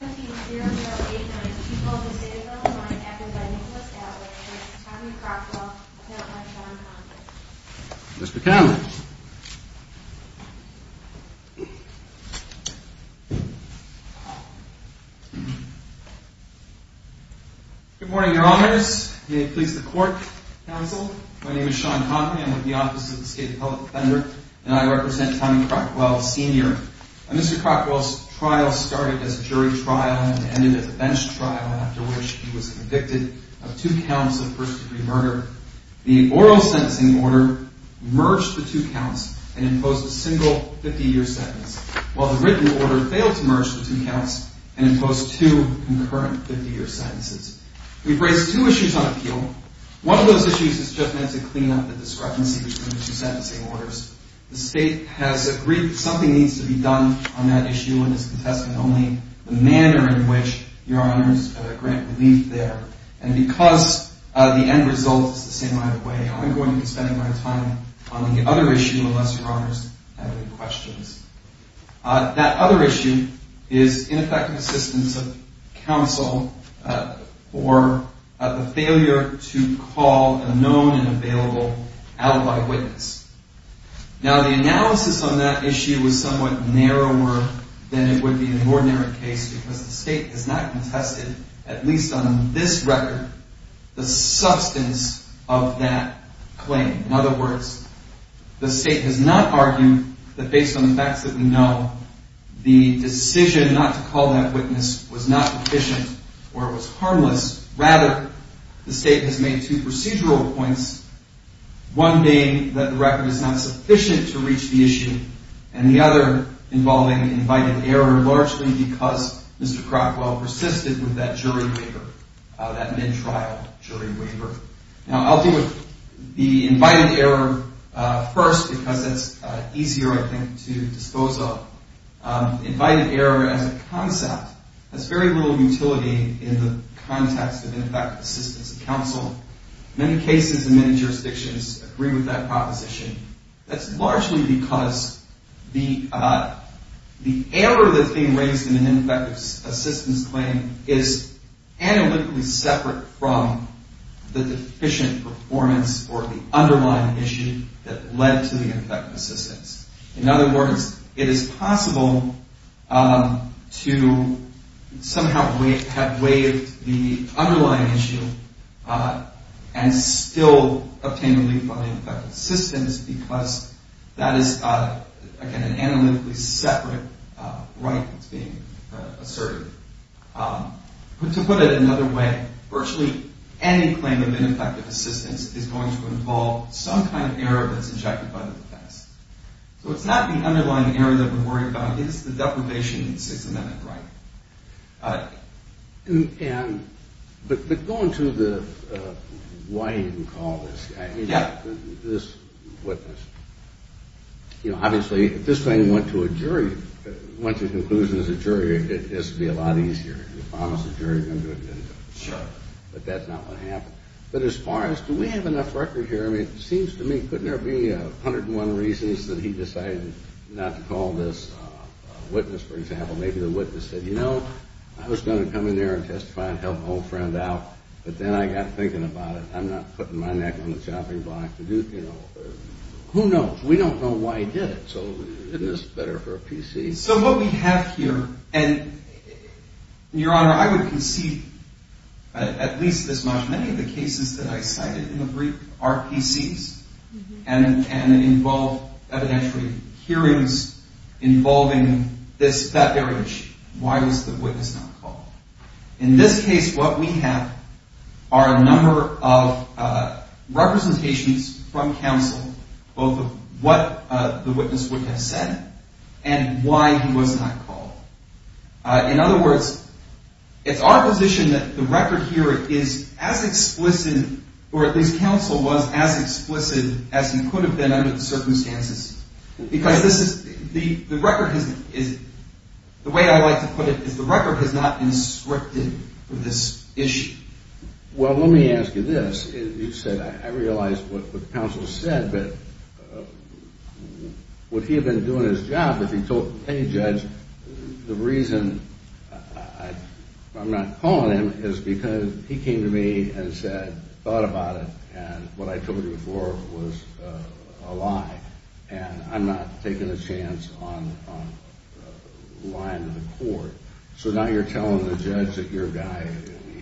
Good morning, your honors. May it please the court, counsel. My name is Sean Conklin. I'm with the Office of the State Appellate Defender, and I represent Tommy Crockwell, Sr. Mr. Crockwell's trial started as a jury trial and ended as a bench trial, after which he was convicted of two counts of first-degree murder. The oral sentencing order merged the two counts and imposed a single 50-year sentence, while the written order failed to merge the two counts and imposed two concurrent 50-year sentences. We've raised two issues on appeal. One of those issues is just meant to clean up the discrepancy between the two sentencing orders. The state has agreed that something needs to be done on that issue and is contesting only the manner in which your honors grant relief there. And because the end result is the same either way, I'm going to be spending my time on the other issue unless your honors have any questions. That other issue is ineffective assistance of counsel for the failure to call a known and available alibi witness. Now, the analysis on that issue was somewhat narrower than it would be in an ordinary case because the state has not contested, at least on this record, the substance of that claim. In other words, the state has not argued that based on the facts that we know, the decision not to call that witness was not efficient or was harmless. Rather, the state has made two procedural points, one being that the record is not sufficient to reach the issue, and the other involving invited error largely because Mr. Crockwell persisted with that jury waiver, that mid-trial jury waiver. Now, I'll deal with the invited error first because that's easier, I think, to dispose of. Invited error as a concept has very little utility in the context of ineffective assistance of counsel. Many cases in many jurisdictions agree with that proposition. That's largely because the error that's being raised in an ineffective assistance claim is analytically separate from the deficient performance or the underlying issue that led to the ineffective assistance. In other words, it is possible to somehow have waived the underlying issue and still obtain relief from the ineffective assistance because that is, again, an analytically separate right that's being asserted. But to put it another way, virtually any claim of ineffective assistance is going to involve some kind of error that's injected by the defense. So it's not the underlying error that we're worried about. It's the deprivation of the Sixth Amendment right. But going to the why you even call this, I mean, this witness, you know, obviously if this thing went to a jury, went to a conclusion as a jury, it has to be a lot easier. You promised the jury you were going to do it, didn't you? You know, I was going to come in there and testify and help my old friend out. But then I got thinking about it. I'm not putting my neck on the chopping block to do it. Who knows? We don't know why he did it. So it is better for a PC. So what we have here, and Your Honor, I would concede at least this much. Many of the cases that I cited in the brief are PCs and involve evidentiary hearings involving that very issue. Why was the witness not called? In this case, what we have are a number of representations from counsel, both of what the witness would have said and why he was not called. In other words, it's our position that the record here is as explicit, or at least counsel was as explicit as he could have been under the circumstances. The way I like to put it is the record has not been scripted for this issue. And I'm not taking a chance on lying to the court. So now you're telling the judge that your guy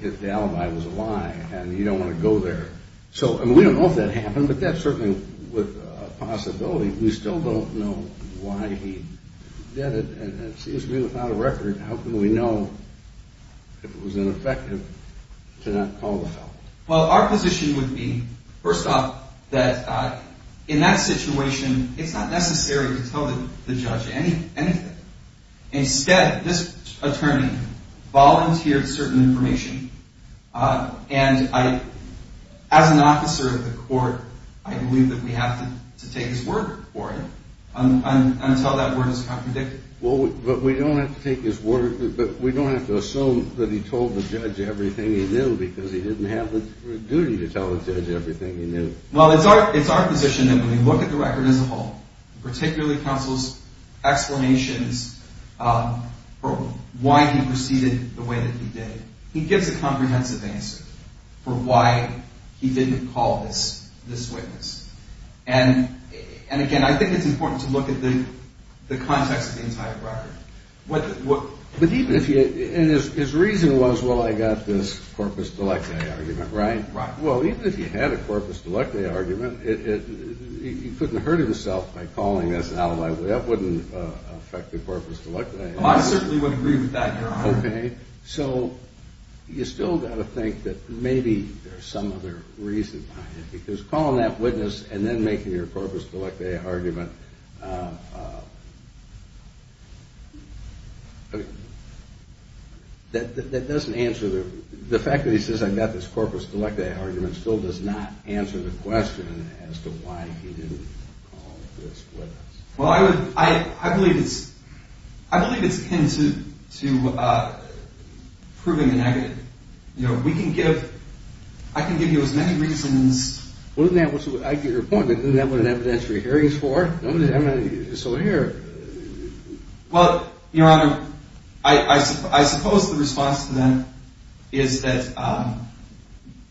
hit the alibi was a lie, and you don't want to go there. So, I mean, we don't know if that happened, but that's certainly a possibility. We still don't know why he did it. And it seems to me without a record, how can we know if it was ineffective to not call the felon? Well, our position would be, first off, that in that situation, it's not necessary to tell the judge anything. Instead, this attorney volunteered certain information, and as an officer of the court, I believe that we have to take his word for it until that word is contradicted. But we don't have to assume that he told the judge everything he knew because he didn't have the duty to tell the judge everything he knew. Well, it's our position that when we look at the record as a whole, particularly counsel's explanations for why he proceeded the way that he did, he gives a comprehensive answer for why he didn't call this witness. And, again, I think it's important to look at the context of the entire record. But even if you – and his reason was, well, I got this corpus delicti argument, right? Well, even if he had a corpus delicti argument, he couldn't hurt himself by calling this alibi. That wouldn't affect the corpus delicti. Well, I certainly wouldn't agree with that, Your Honor. Okay. So you still got to think that maybe there's some other reason behind it because calling that witness and then making your corpus delicti argument, that doesn't answer the – the fact that he says, I got this corpus delicti argument still does not answer the question as to why he didn't call this witness. Well, I would – I believe it's – I believe it's akin to proving the negative. You know, we can give – I can give you as many reasons. Well, isn't that what – I get your point. Isn't that what an evidentiary hearing is for? I mean, it's over here. Well, Your Honor, I suppose the response to that is that,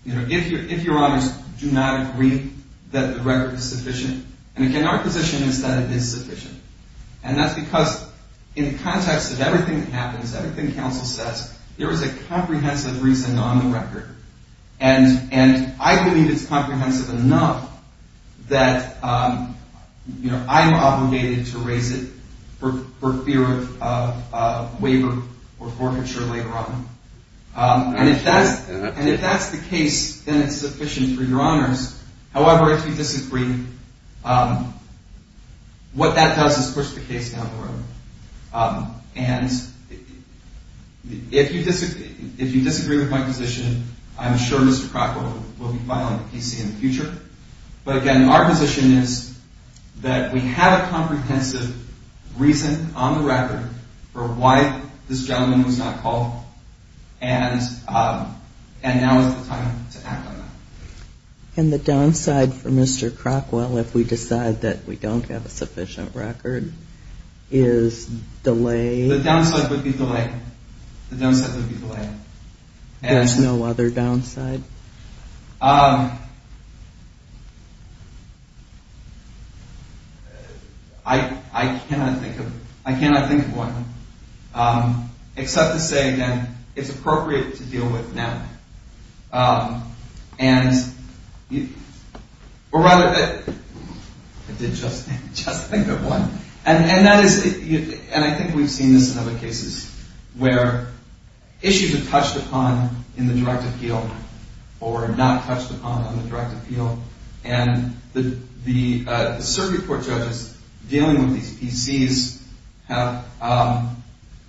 you know, if Your Honors do not agree that the record is sufficient – and again, our position is that it is sufficient. And that's because in the context of everything that happens, everything counsel says, there is a comprehensive reason on the record. And I believe it's comprehensive enough that, you know, I'm obligated to raise it for fear of waiver or forfeiture later on. And if that's – and if that's the case, then it's sufficient for Your Honors. However, if you disagree, what that does is push the case down the road. And if you disagree with my position, I'm sure Mr. Crockwell will be filing a PC in the future. But again, our position is that we have a comprehensive reason on the record for why this gentleman was not called. And now is the time to act on that. And the downside for Mr. Crockwell if we decide that we don't have a sufficient record is delay? The downside would be delay. The downside would be delay. There's no other downside? I cannot think of – I cannot think of one, except to say, again, it's appropriate to deal with now. And – or rather – I did just think of one. And that is – and I think we've seen this in other cases where issues are touched upon in the direct appeal or not touched upon on the direct appeal. And the circuit court judges dealing with these PCs have a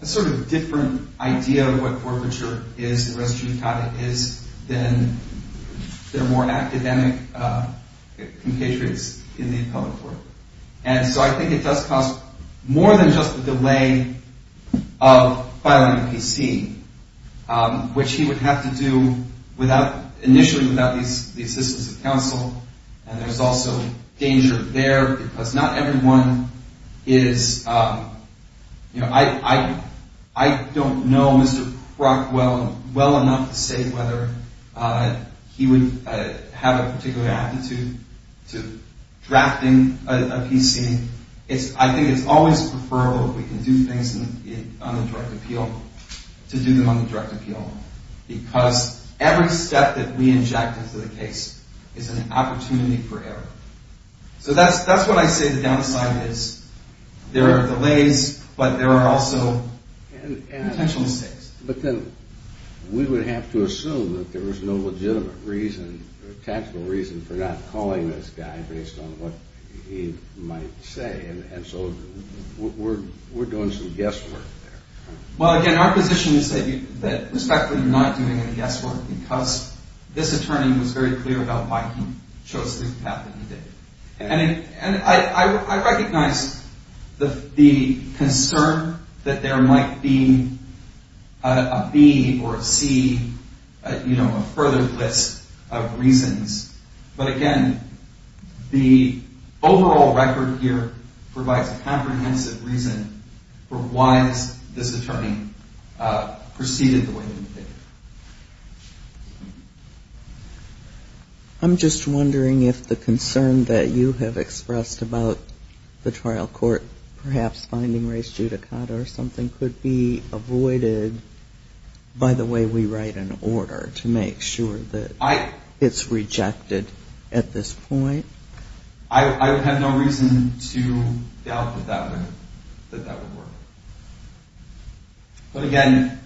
sort of different idea of what forfeiture is, the res judicata is, than their more academic compatriots in the appellate court. And so I think it does cost more than just the delay of filing a PC, which he would have to do without – initially without the assistance of counsel. And there's also danger there because not everyone is – you know, I don't know Mr. Crockwell well enough to say whether he would have a particular aptitude to drafting a PC. I think it's always preferable if we can do things on the direct appeal to do them on the direct appeal because every step that we inject into the case is an opportunity for error. So that's what I say the downside is. There are delays, but there are also potential mistakes. But then we would have to assume that there was no legitimate reason or tactful reason for not calling this guy based on what he might say. And so we're doing some guesswork there. Well, again, our position is that respectfully you're not doing any guesswork because this attorney was very clear about why he chose the path that he did. And I recognize the concern that there might be a B or a C, you know, a further list of reasons. But again, the overall record here provides a comprehensive reason for why this attorney proceeded the way that he did. I'm just wondering if the concern that you have expressed about the trial court perhaps finding race judicata or something could be avoided by the way we write an order to make sure that it's rejected at this point. I have no reason to doubt that that would work. But again,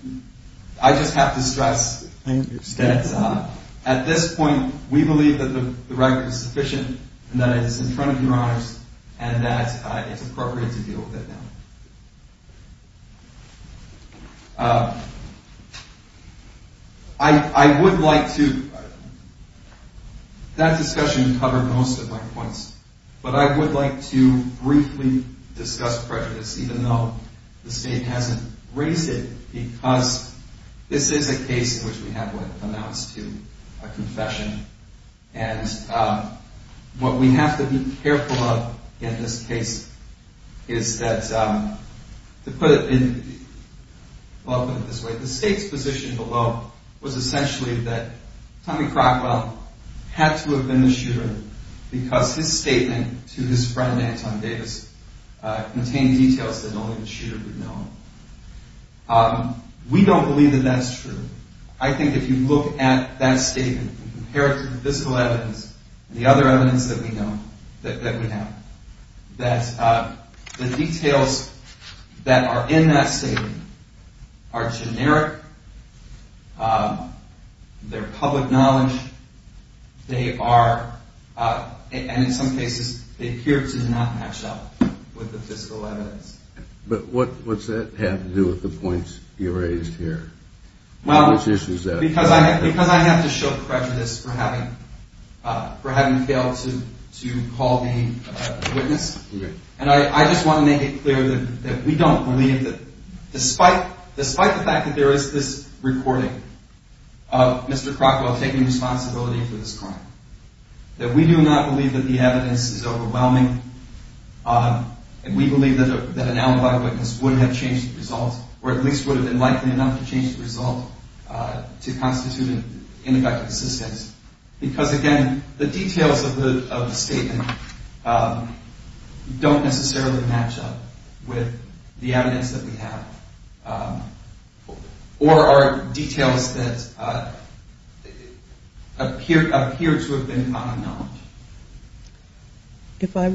I just have to stress that at this point we believe that the record is sufficient and that it is in front of your honors and that it's appropriate to deal with it now. I would like to – that discussion covered most of my points. But I would like to briefly discuss prejudice even though the State hasn't raised it because this is a case in which we have what amounts to a confession. And what we have to be careful of in this case is that to put it in – well, I'll put it this way. The State's position below was essentially that Tommy Crockwell had to have been the shooter because his statement to his friend Anton Davis contained details that only the shooter would know. We don't believe that that's true. I think if you look at that statement and compare it to the fiscal evidence and the other evidence that we have, that the details that are in that statement are generic, they're public knowledge, they are – and in some cases they appear to not match up with the fiscal evidence. But what's that have to do with the points you raised here? Well, because I have to show prejudice for having failed to call the witness. And I just want to make it clear that we don't believe that – despite the fact that there is this recording of Mr. Crockwell taking responsibility for this crime, that we do not believe that the evidence is overwhelming. And we believe that an alibi witness would have changed the result, or at least would have been likely enough to change the result to constitute an indicted assistance. Because, again, the details of the statement don't necessarily match up with the evidence that we have or are details that appear to have been common knowledge. If I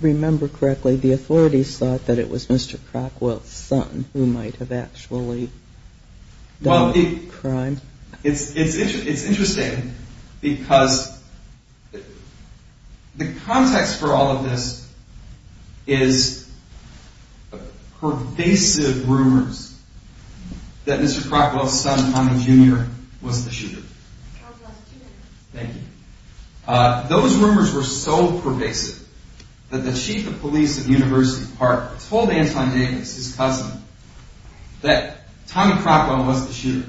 remember correctly, the authorities thought that it was Mr. Crockwell's son who might have actually done the crime. Well, it's interesting because the context for all of this is pervasive rumors that Mr. Crockwell's son, Connie Jr., was the shooter. I'll just two minutes. Thank you. Those rumors were so pervasive that the chief of police at University Park told Anton Davis, his cousin, that Tommy Crockwell was the shooter.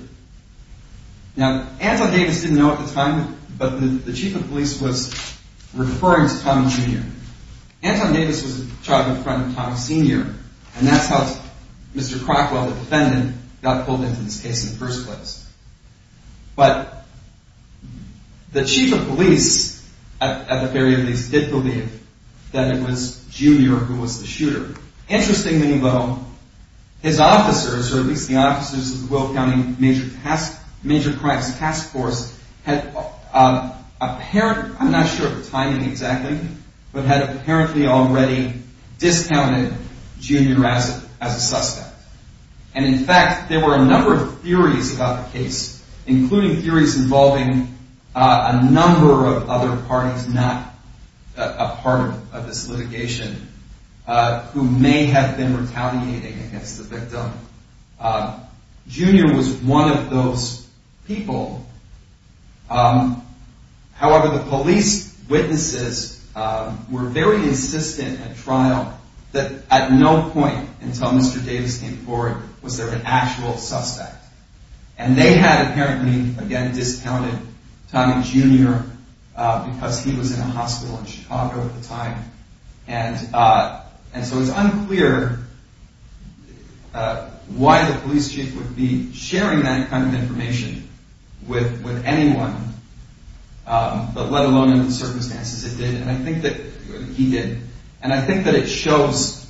Now, Anton Davis didn't know at the time, but the chief of police was referring to Tommy Jr. Anton Davis was a childhood friend of Tommy Sr., and that's how Mr. Crockwell, the defendant, got pulled into this case in the first place. But the chief of police, at the very least, did believe that it was Jr. who was the shooter. Interestingly, though, his officers, or at least the officers of the Will County Major Crimes Task Force, had apparently, I'm not sure of the timing exactly, but had apparently already discounted Jr. as a suspect. And, in fact, there were a number of theories about the case, including theories involving a number of other parties not a part of this litigation, who may have been retaliating against the victim. Jr. was one of those people. However, the police witnesses were very insistent at trial that at no point until Mr. Davis came forward was there an actual suspect. And they had apparently, again, discounted Tommy Jr. because he was in a hospital in Chicago at the time. And so it's unclear why the police chief would be sharing that kind of information with anyone, but let alone in the circumstances it did. And I think that he did. And I think that it shows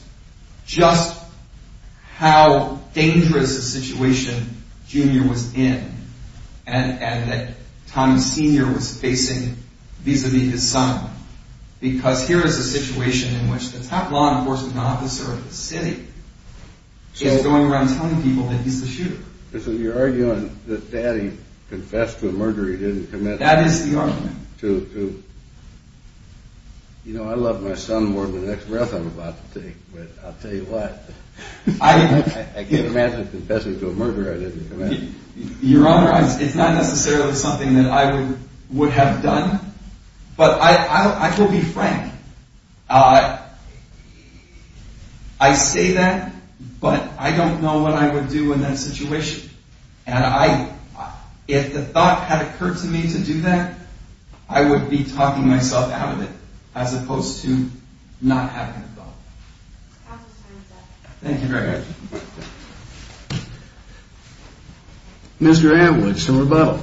just how dangerous a situation Jr. was in and that Tommy Sr. was facing vis-à-vis his son. Because here is a situation in which the top law enforcement officer of the city is going around telling people that he's the shooter. So you're arguing that Daddy confessed to a murder he didn't commit? That is the argument. You know, I love my son more than the next breath I'm about to take, but I'll tell you what. I can't imagine confessing to a murder I didn't commit. Your Honor, it's not necessarily something that I would have done, but I will be frank. I say that, but I don't know what I would do in that situation. And if the thought had occurred to me to do that, I would be talking myself out of it as opposed to not having the thought. Counsel, time is up. Thank you very much. Mr. Amwood, some rebuttal.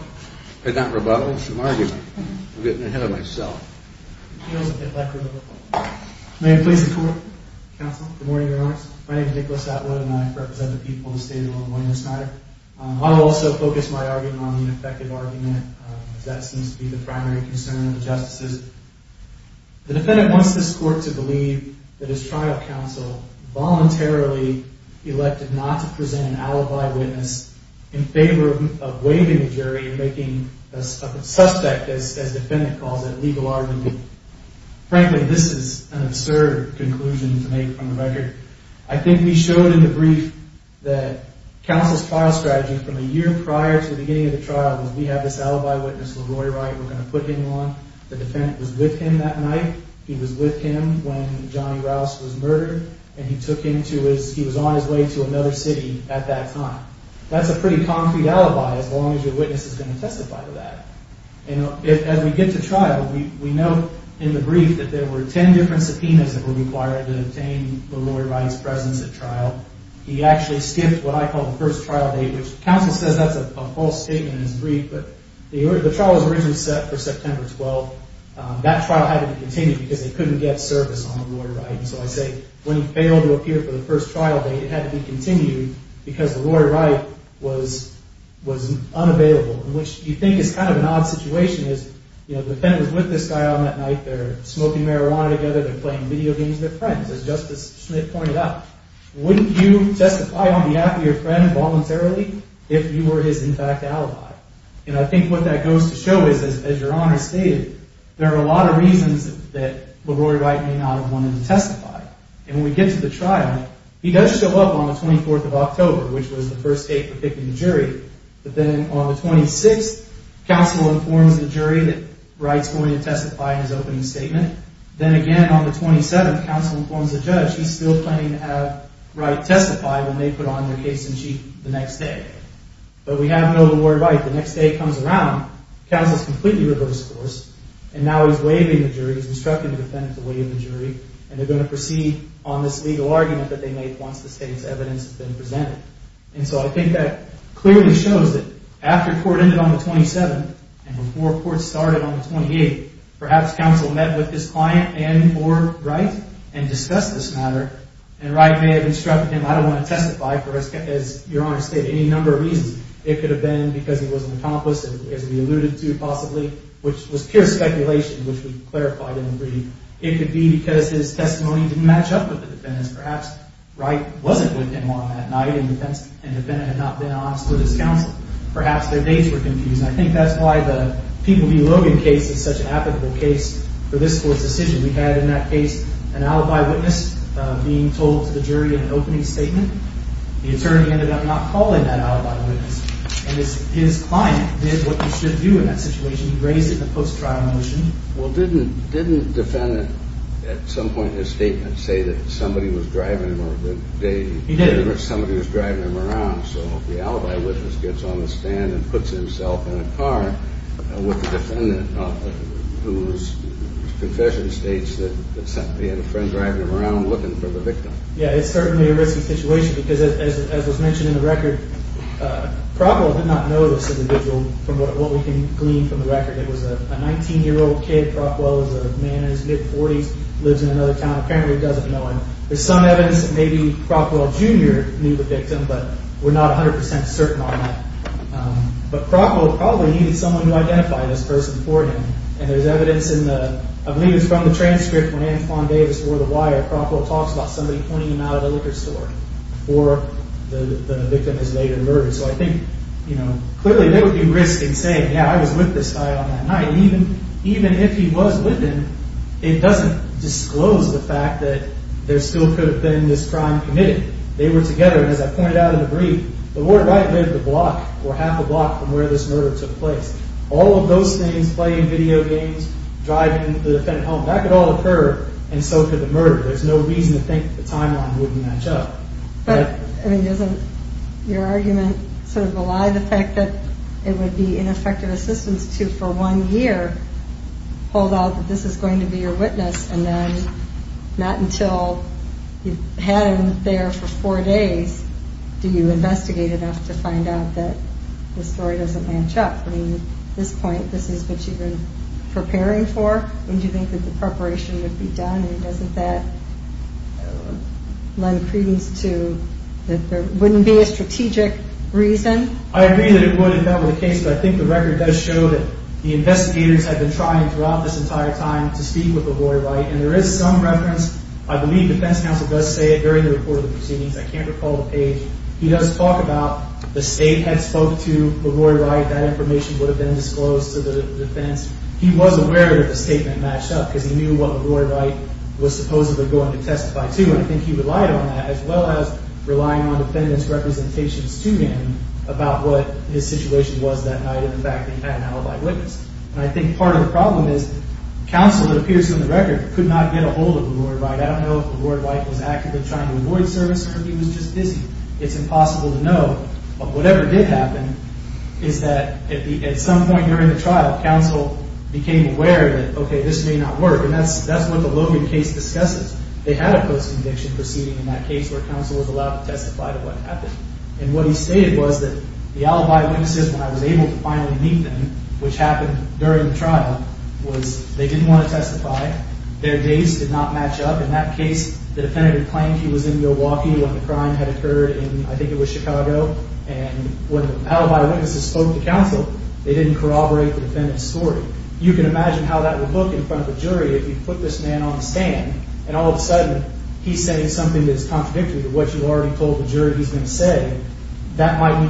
Not rebuttal, some argument. I'm getting ahead of myself. May it please the Court. Counsel, good morning, Your Honor. My name is Nicholas Atwood, and I represent the people of the state of Illinois in this matter. I will also focus my argument on the ineffective argument, because that seems to be the primary concern of the justices. The defendant wants this Court to believe that his trial counsel voluntarily elected not to present an alibi witness in favor of waiving the jury and making a suspect, as the defendant calls it, a legal argument. Frankly, this is an absurd conclusion to make from the record. I think we showed in the brief that counsel's trial strategy from a year prior to the beginning of the trial was we have this alibi witness, LaRoy Wright. We're going to put him on. The defendant was with him that night. He was with him when Johnny Rouse was murdered, and he was on his way to another city at that time. That's a pretty concrete alibi as long as your witness is going to testify to that. As we get to trial, we note in the brief that there were ten different subpoenas that were required to obtain LaRoy Wright's presence at trial. He actually skipped what I call the first trial date, which counsel says that's a false statement in his brief, but the trial was originally set for September 12th. That trial had to be continued because they couldn't get service on LaRoy Wright. So I say when he failed to appear for the first trial date, it had to be continued because LaRoy Wright was unavailable, which you think is kind of an odd situation. The defendant was with this guy on that night. They're smoking marijuana together. They're playing video games with friends, as Justice Smith pointed out. Wouldn't you testify on behalf of your friend voluntarily if you were his, in fact, alibi? And I think what that goes to show is, as Your Honor stated, there are a lot of reasons that LaRoy Wright may not have wanted to testify. And when we get to the trial, he does show up on the 24th of October, which was the first date for picking the jury. But then on the 26th, counsel informs the jury that Wright's going to testify in his opening statement. Then again on the 27th, counsel informs the judge he's still planning to have Wright testify when they put on their case in chief the next day. But we have no LaRoy Wright. The next day he comes around, counsel's completely reversed course, and now he's waiving the jury. He's instructing the defendant to waive the jury, and they're going to proceed on this legal argument that they made once the state's evidence has been presented. And so I think that clearly shows that after court ended on the 27th and before court started on the 28th, perhaps counsel met with his client and or Wright and discussed this matter. And Wright may have instructed him, I don't want to testify for, as Your Honor stated, any number of reasons. It could have been because he was an accomplice, as we alluded to possibly, which was pure speculation, which we clarified in the reading. It could be because his testimony didn't match up with the defendant's. Perhaps Wright wasn't with him all that night, and the defendant had not been honest with his counsel. Perhaps their dates were confused. And I think that's why the People v. Logan case is such an applicable case for this court's decision. We had in that case an alibi witness being told to the jury in an opening statement. The attorney ended up not calling that alibi witness. And his client did what he should do in that situation. He raised it in a post-trial motion. Well, didn't the defendant at some point in his statement say that somebody was driving him? He did. Somebody was driving him around, so the alibi witness gets on the stand and puts himself in a car with the defendant, whose confession states that he had a friend driving him around looking for the victim. Yeah, it's certainly a risky situation because, as was mentioned in the record, Crockwell did not know this individual from what we can glean from the record. It was a 19-year-old kid. Crockwell is a man in his mid-40s, lives in another town. Apparently he doesn't know him. There's some evidence that maybe Crockwell Jr. knew the victim, but we're not 100% certain on that. But Crockwell probably needed someone to identify this person for him, and there's evidence in the— I believe it was from the transcript when Anne Fon Davis wore the wire, Crockwell talks about somebody pointing him out of the liquor store for the victim his later murder. So I think, you know, clearly there would be risk in saying, yeah, I was with this guy on that night. And even if he was with him, it doesn't disclose the fact that there still could have been this crime committed. They were together, and as I pointed out in the brief, the warden might have been a block or half a block from where this murder took place. All of those things, playing video games, driving the defendant home, that could all occur, and so could the murder. There's no reason to think the timeline wouldn't match up. But, I mean, doesn't your argument sort of rely on the fact that it would be ineffective assistance to, for one year, hold out that this is going to be your witness, and then not until you've had him there for four days do you investigate enough to find out that the story doesn't match up? I mean, at this point, this is what you've been preparing for? And do you think that the preparation would be done? And doesn't that lend credence to that there wouldn't be a strategic reason? I agree that it would if that were the case, but I think the record does show that the investigators have been trying throughout this entire time to speak with LaRoy Wright, and there is some reference. I believe the defense counsel does say it during the report of the proceedings. I can't recall the page. He does talk about the state had spoke to LaRoy Wright, that information would have been disclosed to the defense. He was aware that the statement matched up because he knew what LaRoy Wright was supposedly going to testify to, and I think he relied on that as well as relying on defendants' representations to him about what his situation was that night and the fact that he had an alibi witness. And I think part of the problem is counsel, it appears in the record, could not get a hold of LaRoy Wright. I don't know if LaRoy Wright was actively trying to avoid service, or if he was just busy. It's impossible to know, but whatever did happen is that at some point during the trial, counsel became aware that, okay, this may not work. And that's what the Logan case discusses. They had a post-conviction proceeding in that case where counsel was allowed to testify to what happened. And what he stated was that the alibi witnesses, when I was able to finally meet them, which happened during the trial, was they didn't want to testify. Their days did not match up. In that case, the defendant had claimed he was in Milwaukee when the crime had occurred in, I think it was Chicago. And when the alibi witnesses spoke to counsel, they didn't corroborate the defendant's story. You can imagine how that would look in front of the jury if you put this man on the stand, and all of a sudden he's saying something that's contradictory to what you already told the jury he's going to say. That might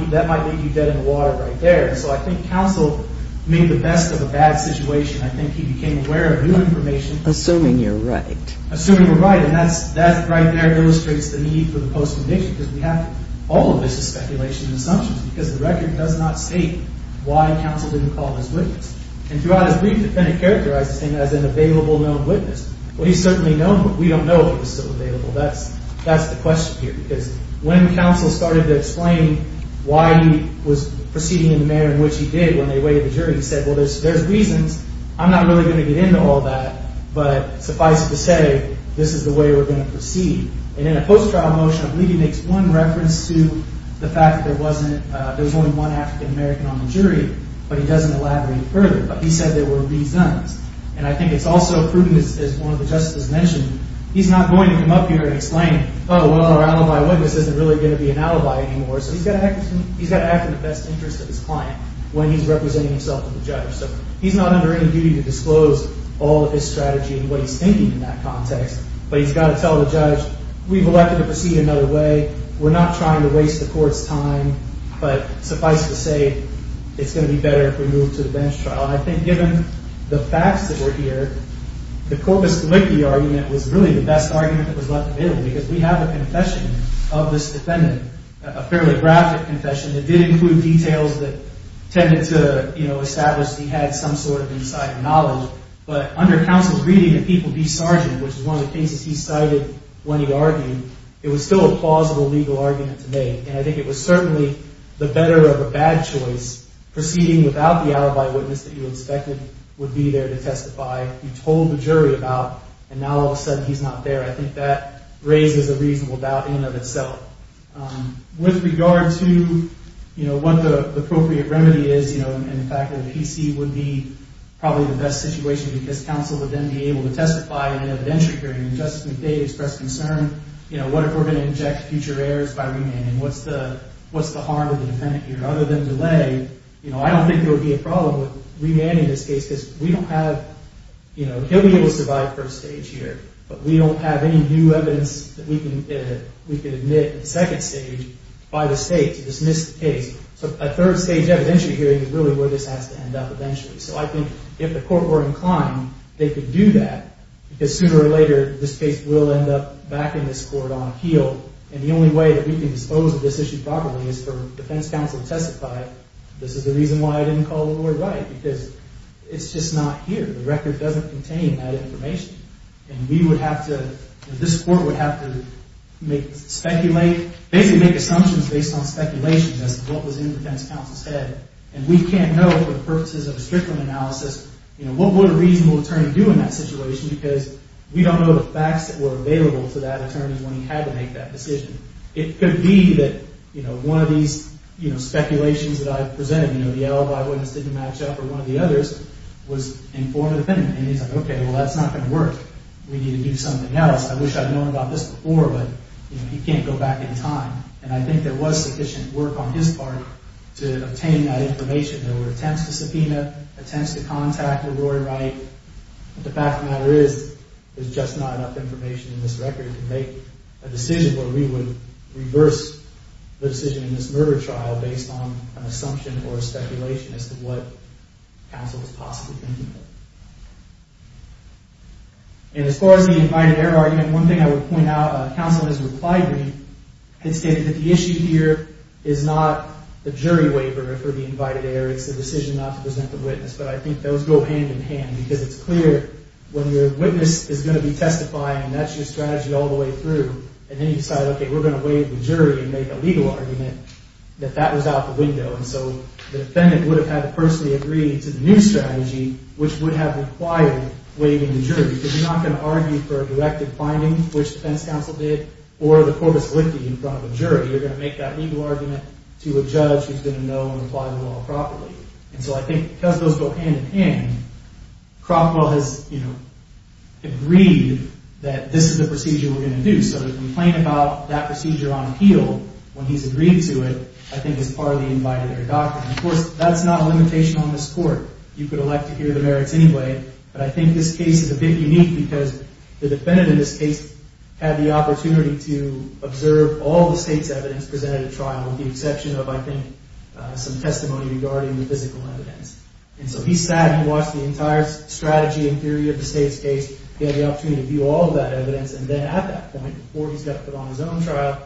leave you dead in the water right there. So I think counsel made the best of a bad situation. I think he became aware of new information. Assuming you're right. Assuming you're right. And that right there illustrates the need for the post-conviction because all of this is speculation and assumptions because the record does not state why counsel didn't call his witness. And throughout his brief, the defendant characterized this thing as an available known witness. Well, he's certainly known, but we don't know if he was still available. That's the question here because when counsel started to explain why he was proceeding in the manner in which he did when they weighed the jury, he said, well, there's reasons. I'm not really going to get into all that. But suffice it to say, this is the way we're going to proceed. And in a post-trial motion, I believe he makes one reference to the fact that there wasn't there was only one African-American on the jury, but he doesn't elaborate further. But he said there were reasons. And I think it's also prudent, as one of the justices mentioned, he's not going to come up here and explain, oh, well, our alibi witness isn't really going to be an alibi anymore. So he's got to act in the best interest of his client when he's representing himself to the judge. So he's not under any duty to disclose all of his strategy and what he's thinking in that context. But he's got to tell the judge, we've elected to proceed another way. We're not trying to waste the court's time. But suffice it to say, it's going to be better if we move to the bench trial. And I think given the facts that were here, the corpus collicti argument was really the best argument that was left available because we have a confession of this defendant, a fairly graphic confession. It did include details that tended to establish that he had some sort of insider knowledge. But under counsel's reading, the people be sergeant, which is one of the cases he cited when he argued, it was still a plausible legal argument to make. And I think it was certainly the better of a bad choice proceeding without the alibi witness that you expected would be there to testify. You told the jury about, and now all of a sudden he's not there. I think that raises a reasonable doubt in and of itself. With regard to what the appropriate remedy is and the fact that PC would be probably the best situation because counsel would then be able to testify in an evidentiary hearing and Justice McDay expressed concern, what if we're going to inject future errors by remanding? What's the harm of the defendant here? Other than delay, I don't think there would be a problem with remanding this case because we don't have, he'll be able to survive first stage here. But we don't have any new evidence that we can admit in second stage by the state to dismiss the case. So a third stage evidentiary hearing is really where this has to end up eventually. So I think if the court were inclined, they could do that because sooner or later, this case will end up back in this court on appeal. And the only way that we can dispose of this issue properly is for defense counsel to testify. This is the reason why I didn't call the Lord Wright because it's just not here. The record doesn't contain that information. And we would have to, this court would have to speculate, basically make assumptions based on speculation as to what was in defense counsel's head. And we can't know for the purposes of a Strickland analysis, you know, what would a reasonable attorney do in that situation because we don't know the facts that were available to that attorney when he had to make that decision. It could be that, you know, one of these, you know, speculations that I presented, you know, the L.Y. witness didn't match up or one of the others was in form of a defendant. And he's like, okay, well, that's not going to work. We need to do something else. I wish I'd known about this before, but, you know, he can't go back in time. And I think there was sufficient work on his part to obtain that information. There were attempts to subpoena, attempts to contact the Lord Wright. The fact of the matter is, there's just not enough information in this record to make a decision where we would reverse the decision in this murder trial based on an assumption or a speculation as to what counsel was possibly thinking of. And as far as the invited error argument, one thing I would point out, counsel has replied to me and stated that the issue here is not the jury waiver for the invited error. It's the decision not to present the witness. But I think those go hand in hand because it's clear when your witness is going to be testifying and that's your strategy all the way through, and then you decide, okay, we're going to waive the jury and make a legal argument that that was out the window. And so the defendant would have had to personally agree to the new strategy, which would have required waiving the jury. Because you're not going to argue for a directive finding, which the defense counsel did, or the corpus licti in front of a jury. You're going to make that legal argument to a judge who's going to know and apply the law properly. And so I think because those go hand in hand, Crockwell has, you know, agreed that this is the procedure we're going to do. So to complain about that procedure on appeal when he's agreed to it, I think is part of the invited error doctrine. Of course, that's not a limitation on this court. You could elect to hear the merits anyway. But I think this case is a bit unique because the defendant in this case had the opportunity to observe all the state's evidence presented at trial with the exception of, I think, some testimony regarding the physical evidence. And so he sat and watched the entire strategy and theory of the state's case. He had the opportunity to view all of that evidence. And then at that point, before he's got to put on his own trial,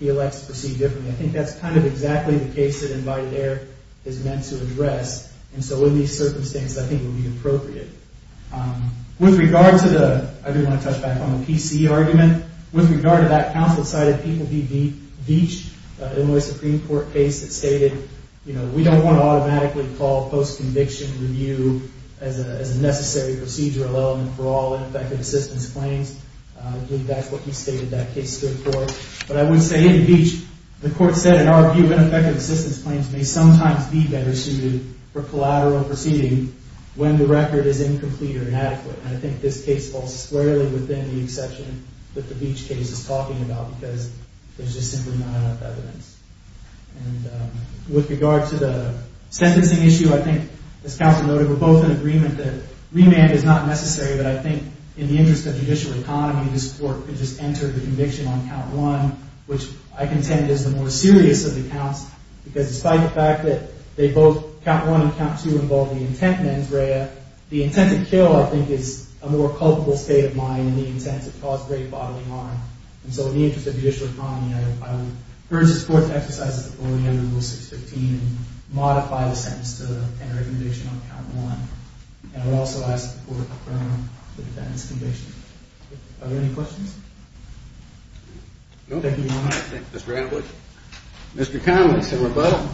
he elects to proceed differently. I think that's kind of exactly the case that invited error is meant to address. And so in these circumstances, I think it would be appropriate. With regard to the – I do want to touch back on the PC argument. With regard to that, counsel cited People v. Beach, an Illinois Supreme Court case that stated, you know, we don't want to automatically call post-conviction review as a necessary procedural element for all effective assistance claims. I believe that's what he stated that case stood for. But I would say in Beach, the court said, in our view, ineffective assistance claims may sometimes be better suited for collateral proceeding when the record is incomplete or inadequate. And I think this case falls squarely within the exception that the Beach case is talking about because there's just simply not enough evidence. And with regard to the sentencing issue, I think, as counsel noted, we're both in agreement that remand is not necessary. But I think in the interest of judicial economy, this court could just enter the conviction on count one, which I contend is the more serious of the counts because despite the fact that they both – count one and count two involve the intent mens rea, the intent to kill, I think, is a more culpable state of mind than the intent to cause great bodily harm. And so in the interest of judicial economy, I would urge this court to exercise its authority under Rule 615 and modify the sentence to enter a conviction on count one. And I would also ask the court to confirm that it's conviction. Are there any questions? Thank you, Your Honor. Thank you, Mr. Adler. Mr. Connelly, Senator Butler.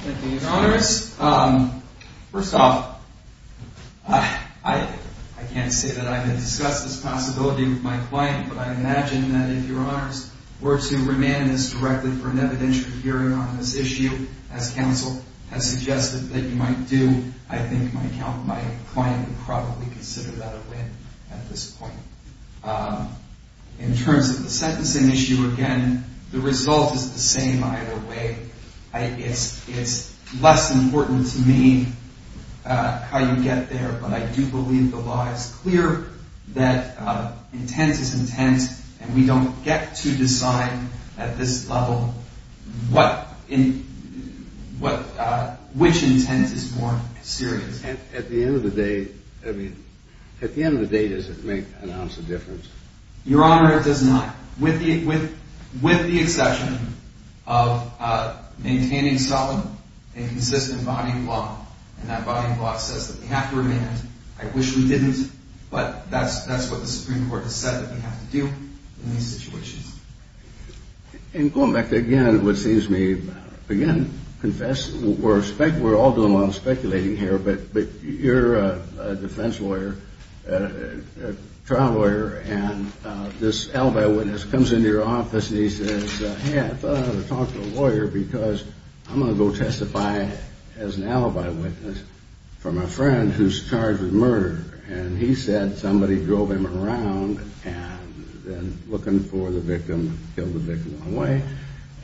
Thank you, Your Honors. First off, I can't say that I've discussed this possibility with my client, but I imagine that if Your Honors were to remand this directly for an evidentiary hearing on this issue as counsel has suggested that you might do, I think my client would probably consider that a win at this point. In terms of the sentencing issue, again, the result is the same either way. It's less important to me how you get there, but I do believe the law is clear that intent is intent, and we don't get to decide at this level which intent is more serious. And at the end of the day, I mean, at the end of the day, does it make an ounce of difference? Your Honor, it does not. With the exception of maintaining solid and consistent body of law, and that body of law says that we have to remand. I wish we didn't, but that's what the Supreme Court has said that we have to do in these situations. And going back to, again, what seems to me, again, confess, we're all doing a lot of speculating here, but you're a defense lawyer, a trial lawyer, and this alibi witness comes into your office and he says, hey, I thought I ought to talk to a lawyer because I'm going to go testify as an alibi witness for my friend who's charged with murder. And he said somebody drove him around looking for the victim, killed the victim on the way,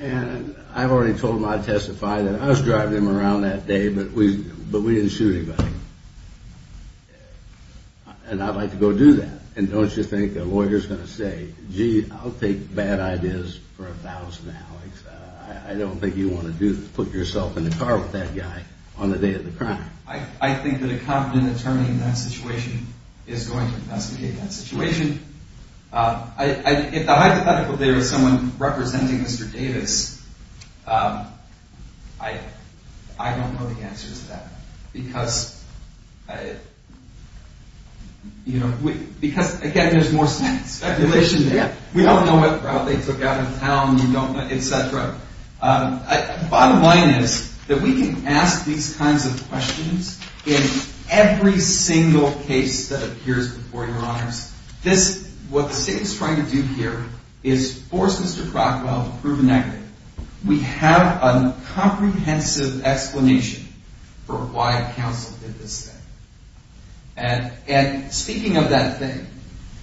and I already told him I'd testify that I was driving him around that day, but we didn't shoot anybody. And I'd like to go do that. And don't you think a lawyer's going to say, gee, I'll take bad ideas for a thousand, Alex. I don't think you want to put yourself in the car with that guy on the day of the crime. I think that a competent attorney in that situation is going to investigate that situation. If the hypothetical there is someone representing Mr. Davis, I don't know the answer to that. Because, again, there's more speculation there. We don't know what route they took out of town, etc. Bottom line is that we can ask these kinds of questions in every single case that appears before your honors. What the state is trying to do here is force Mr. Crockwell to prove a negative. We have a comprehensive explanation for why counsel did this thing. And speaking of that thing,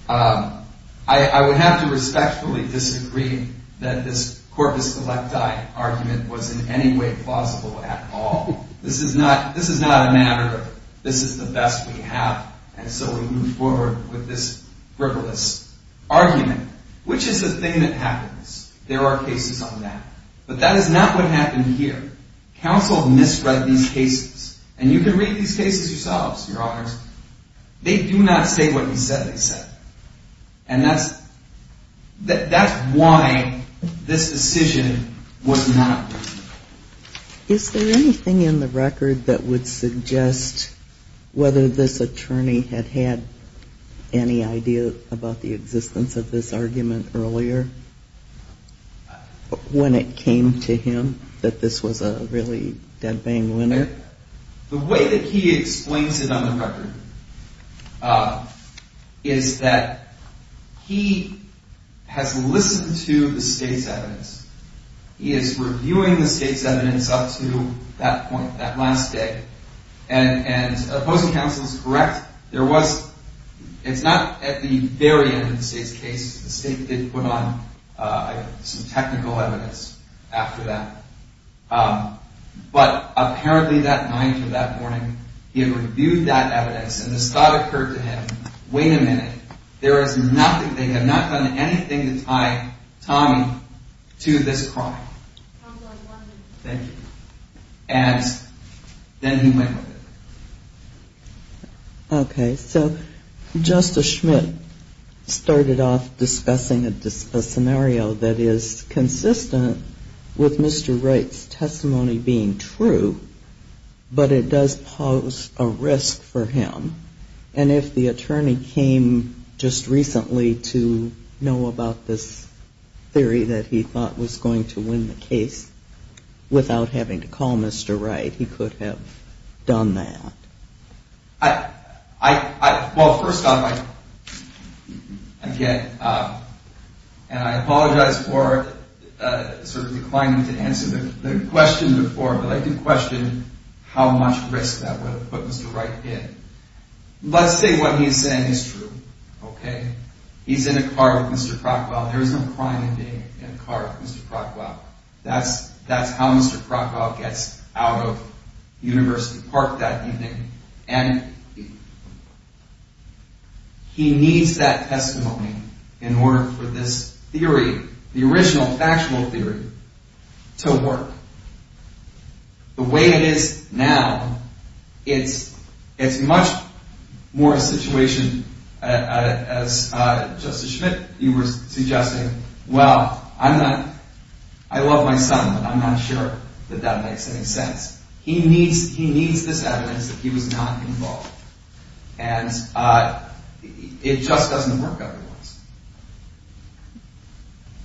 I would have to respectfully disagree that this corpus electi argument was in any way plausible at all. This is not a matter of this is the best we have, and so we move forward with this frivolous argument. Which is the thing that happens? There are cases on that. But that is not what happened here. Counsel misread these cases. And you can read these cases yourselves, your honors. They do not state what he said they said. And that's why this decision was not reasonable. Is there anything in the record that would suggest whether this attorney had had any idea about the existence of this argument earlier? When it came to him that this was a really dead bang winner? The way that he explains it on the record is that he has listened to the state's evidence. He is reviewing the state's evidence up to that point, that last day. And opposing counsel is correct. It's not at the very end of the state's case. The state did put on some technical evidence after that. But apparently that night or that morning, he had reviewed that evidence, and this thought occurred to him. Wait a minute. They have not done anything to tie Tommy to this crime. Thank you. And then he went with it. Okay. So Justice Schmidt started off discussing a scenario that is consistent with Mr. Wright's testimony being true, but it does pose a risk for him. And if the attorney came just recently to know about this theory that he thought was going to win the case without having to call Mr. Wright, he could have done that. Well, first off, again, and I apologize for sort of declining to answer the question before, but I do question how much risk that would have put Mr. Wright in. Let's say what he is saying is true, okay? He is in a car with Mr. Crockwell. There is no crime in being in a car with Mr. Crockwell. That's how Mr. Crockwell gets out of University Park that evening. And he needs that testimony in order for this theory, the original factual theory, to work. The way it is now, it's much more a situation, as Justice Schmidt, you were suggesting, well, I love my son, but I'm not sure that that makes any sense. He needs this evidence that he was not involved. And it just doesn't work every once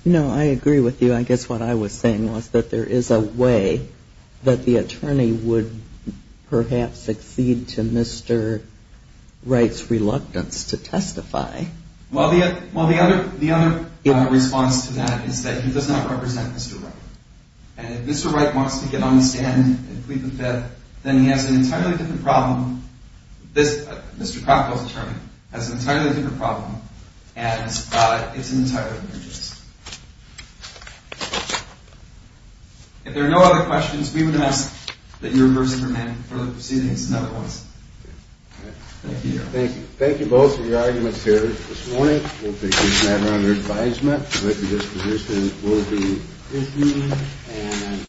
in a while. No, I agree with you. And I guess what I was saying was that there is a way that the attorney would perhaps succeed to Mr. Wright's reluctance to testify. Well, the other response to that is that he does not represent Mr. Wright. And if Mr. Wright wants to get on the stand and plead the fifth, then he has an entirely different problem. Mr. Crockwell's attorney has an entirely different problem. And it's an entirely different case. If there are no other questions, we would ask that you reverse the command for the proceedings in other words. Thank you. Thank you both for your arguments here this morning. We'll take this matter under advisement. I'd like to just position that we'll be listening.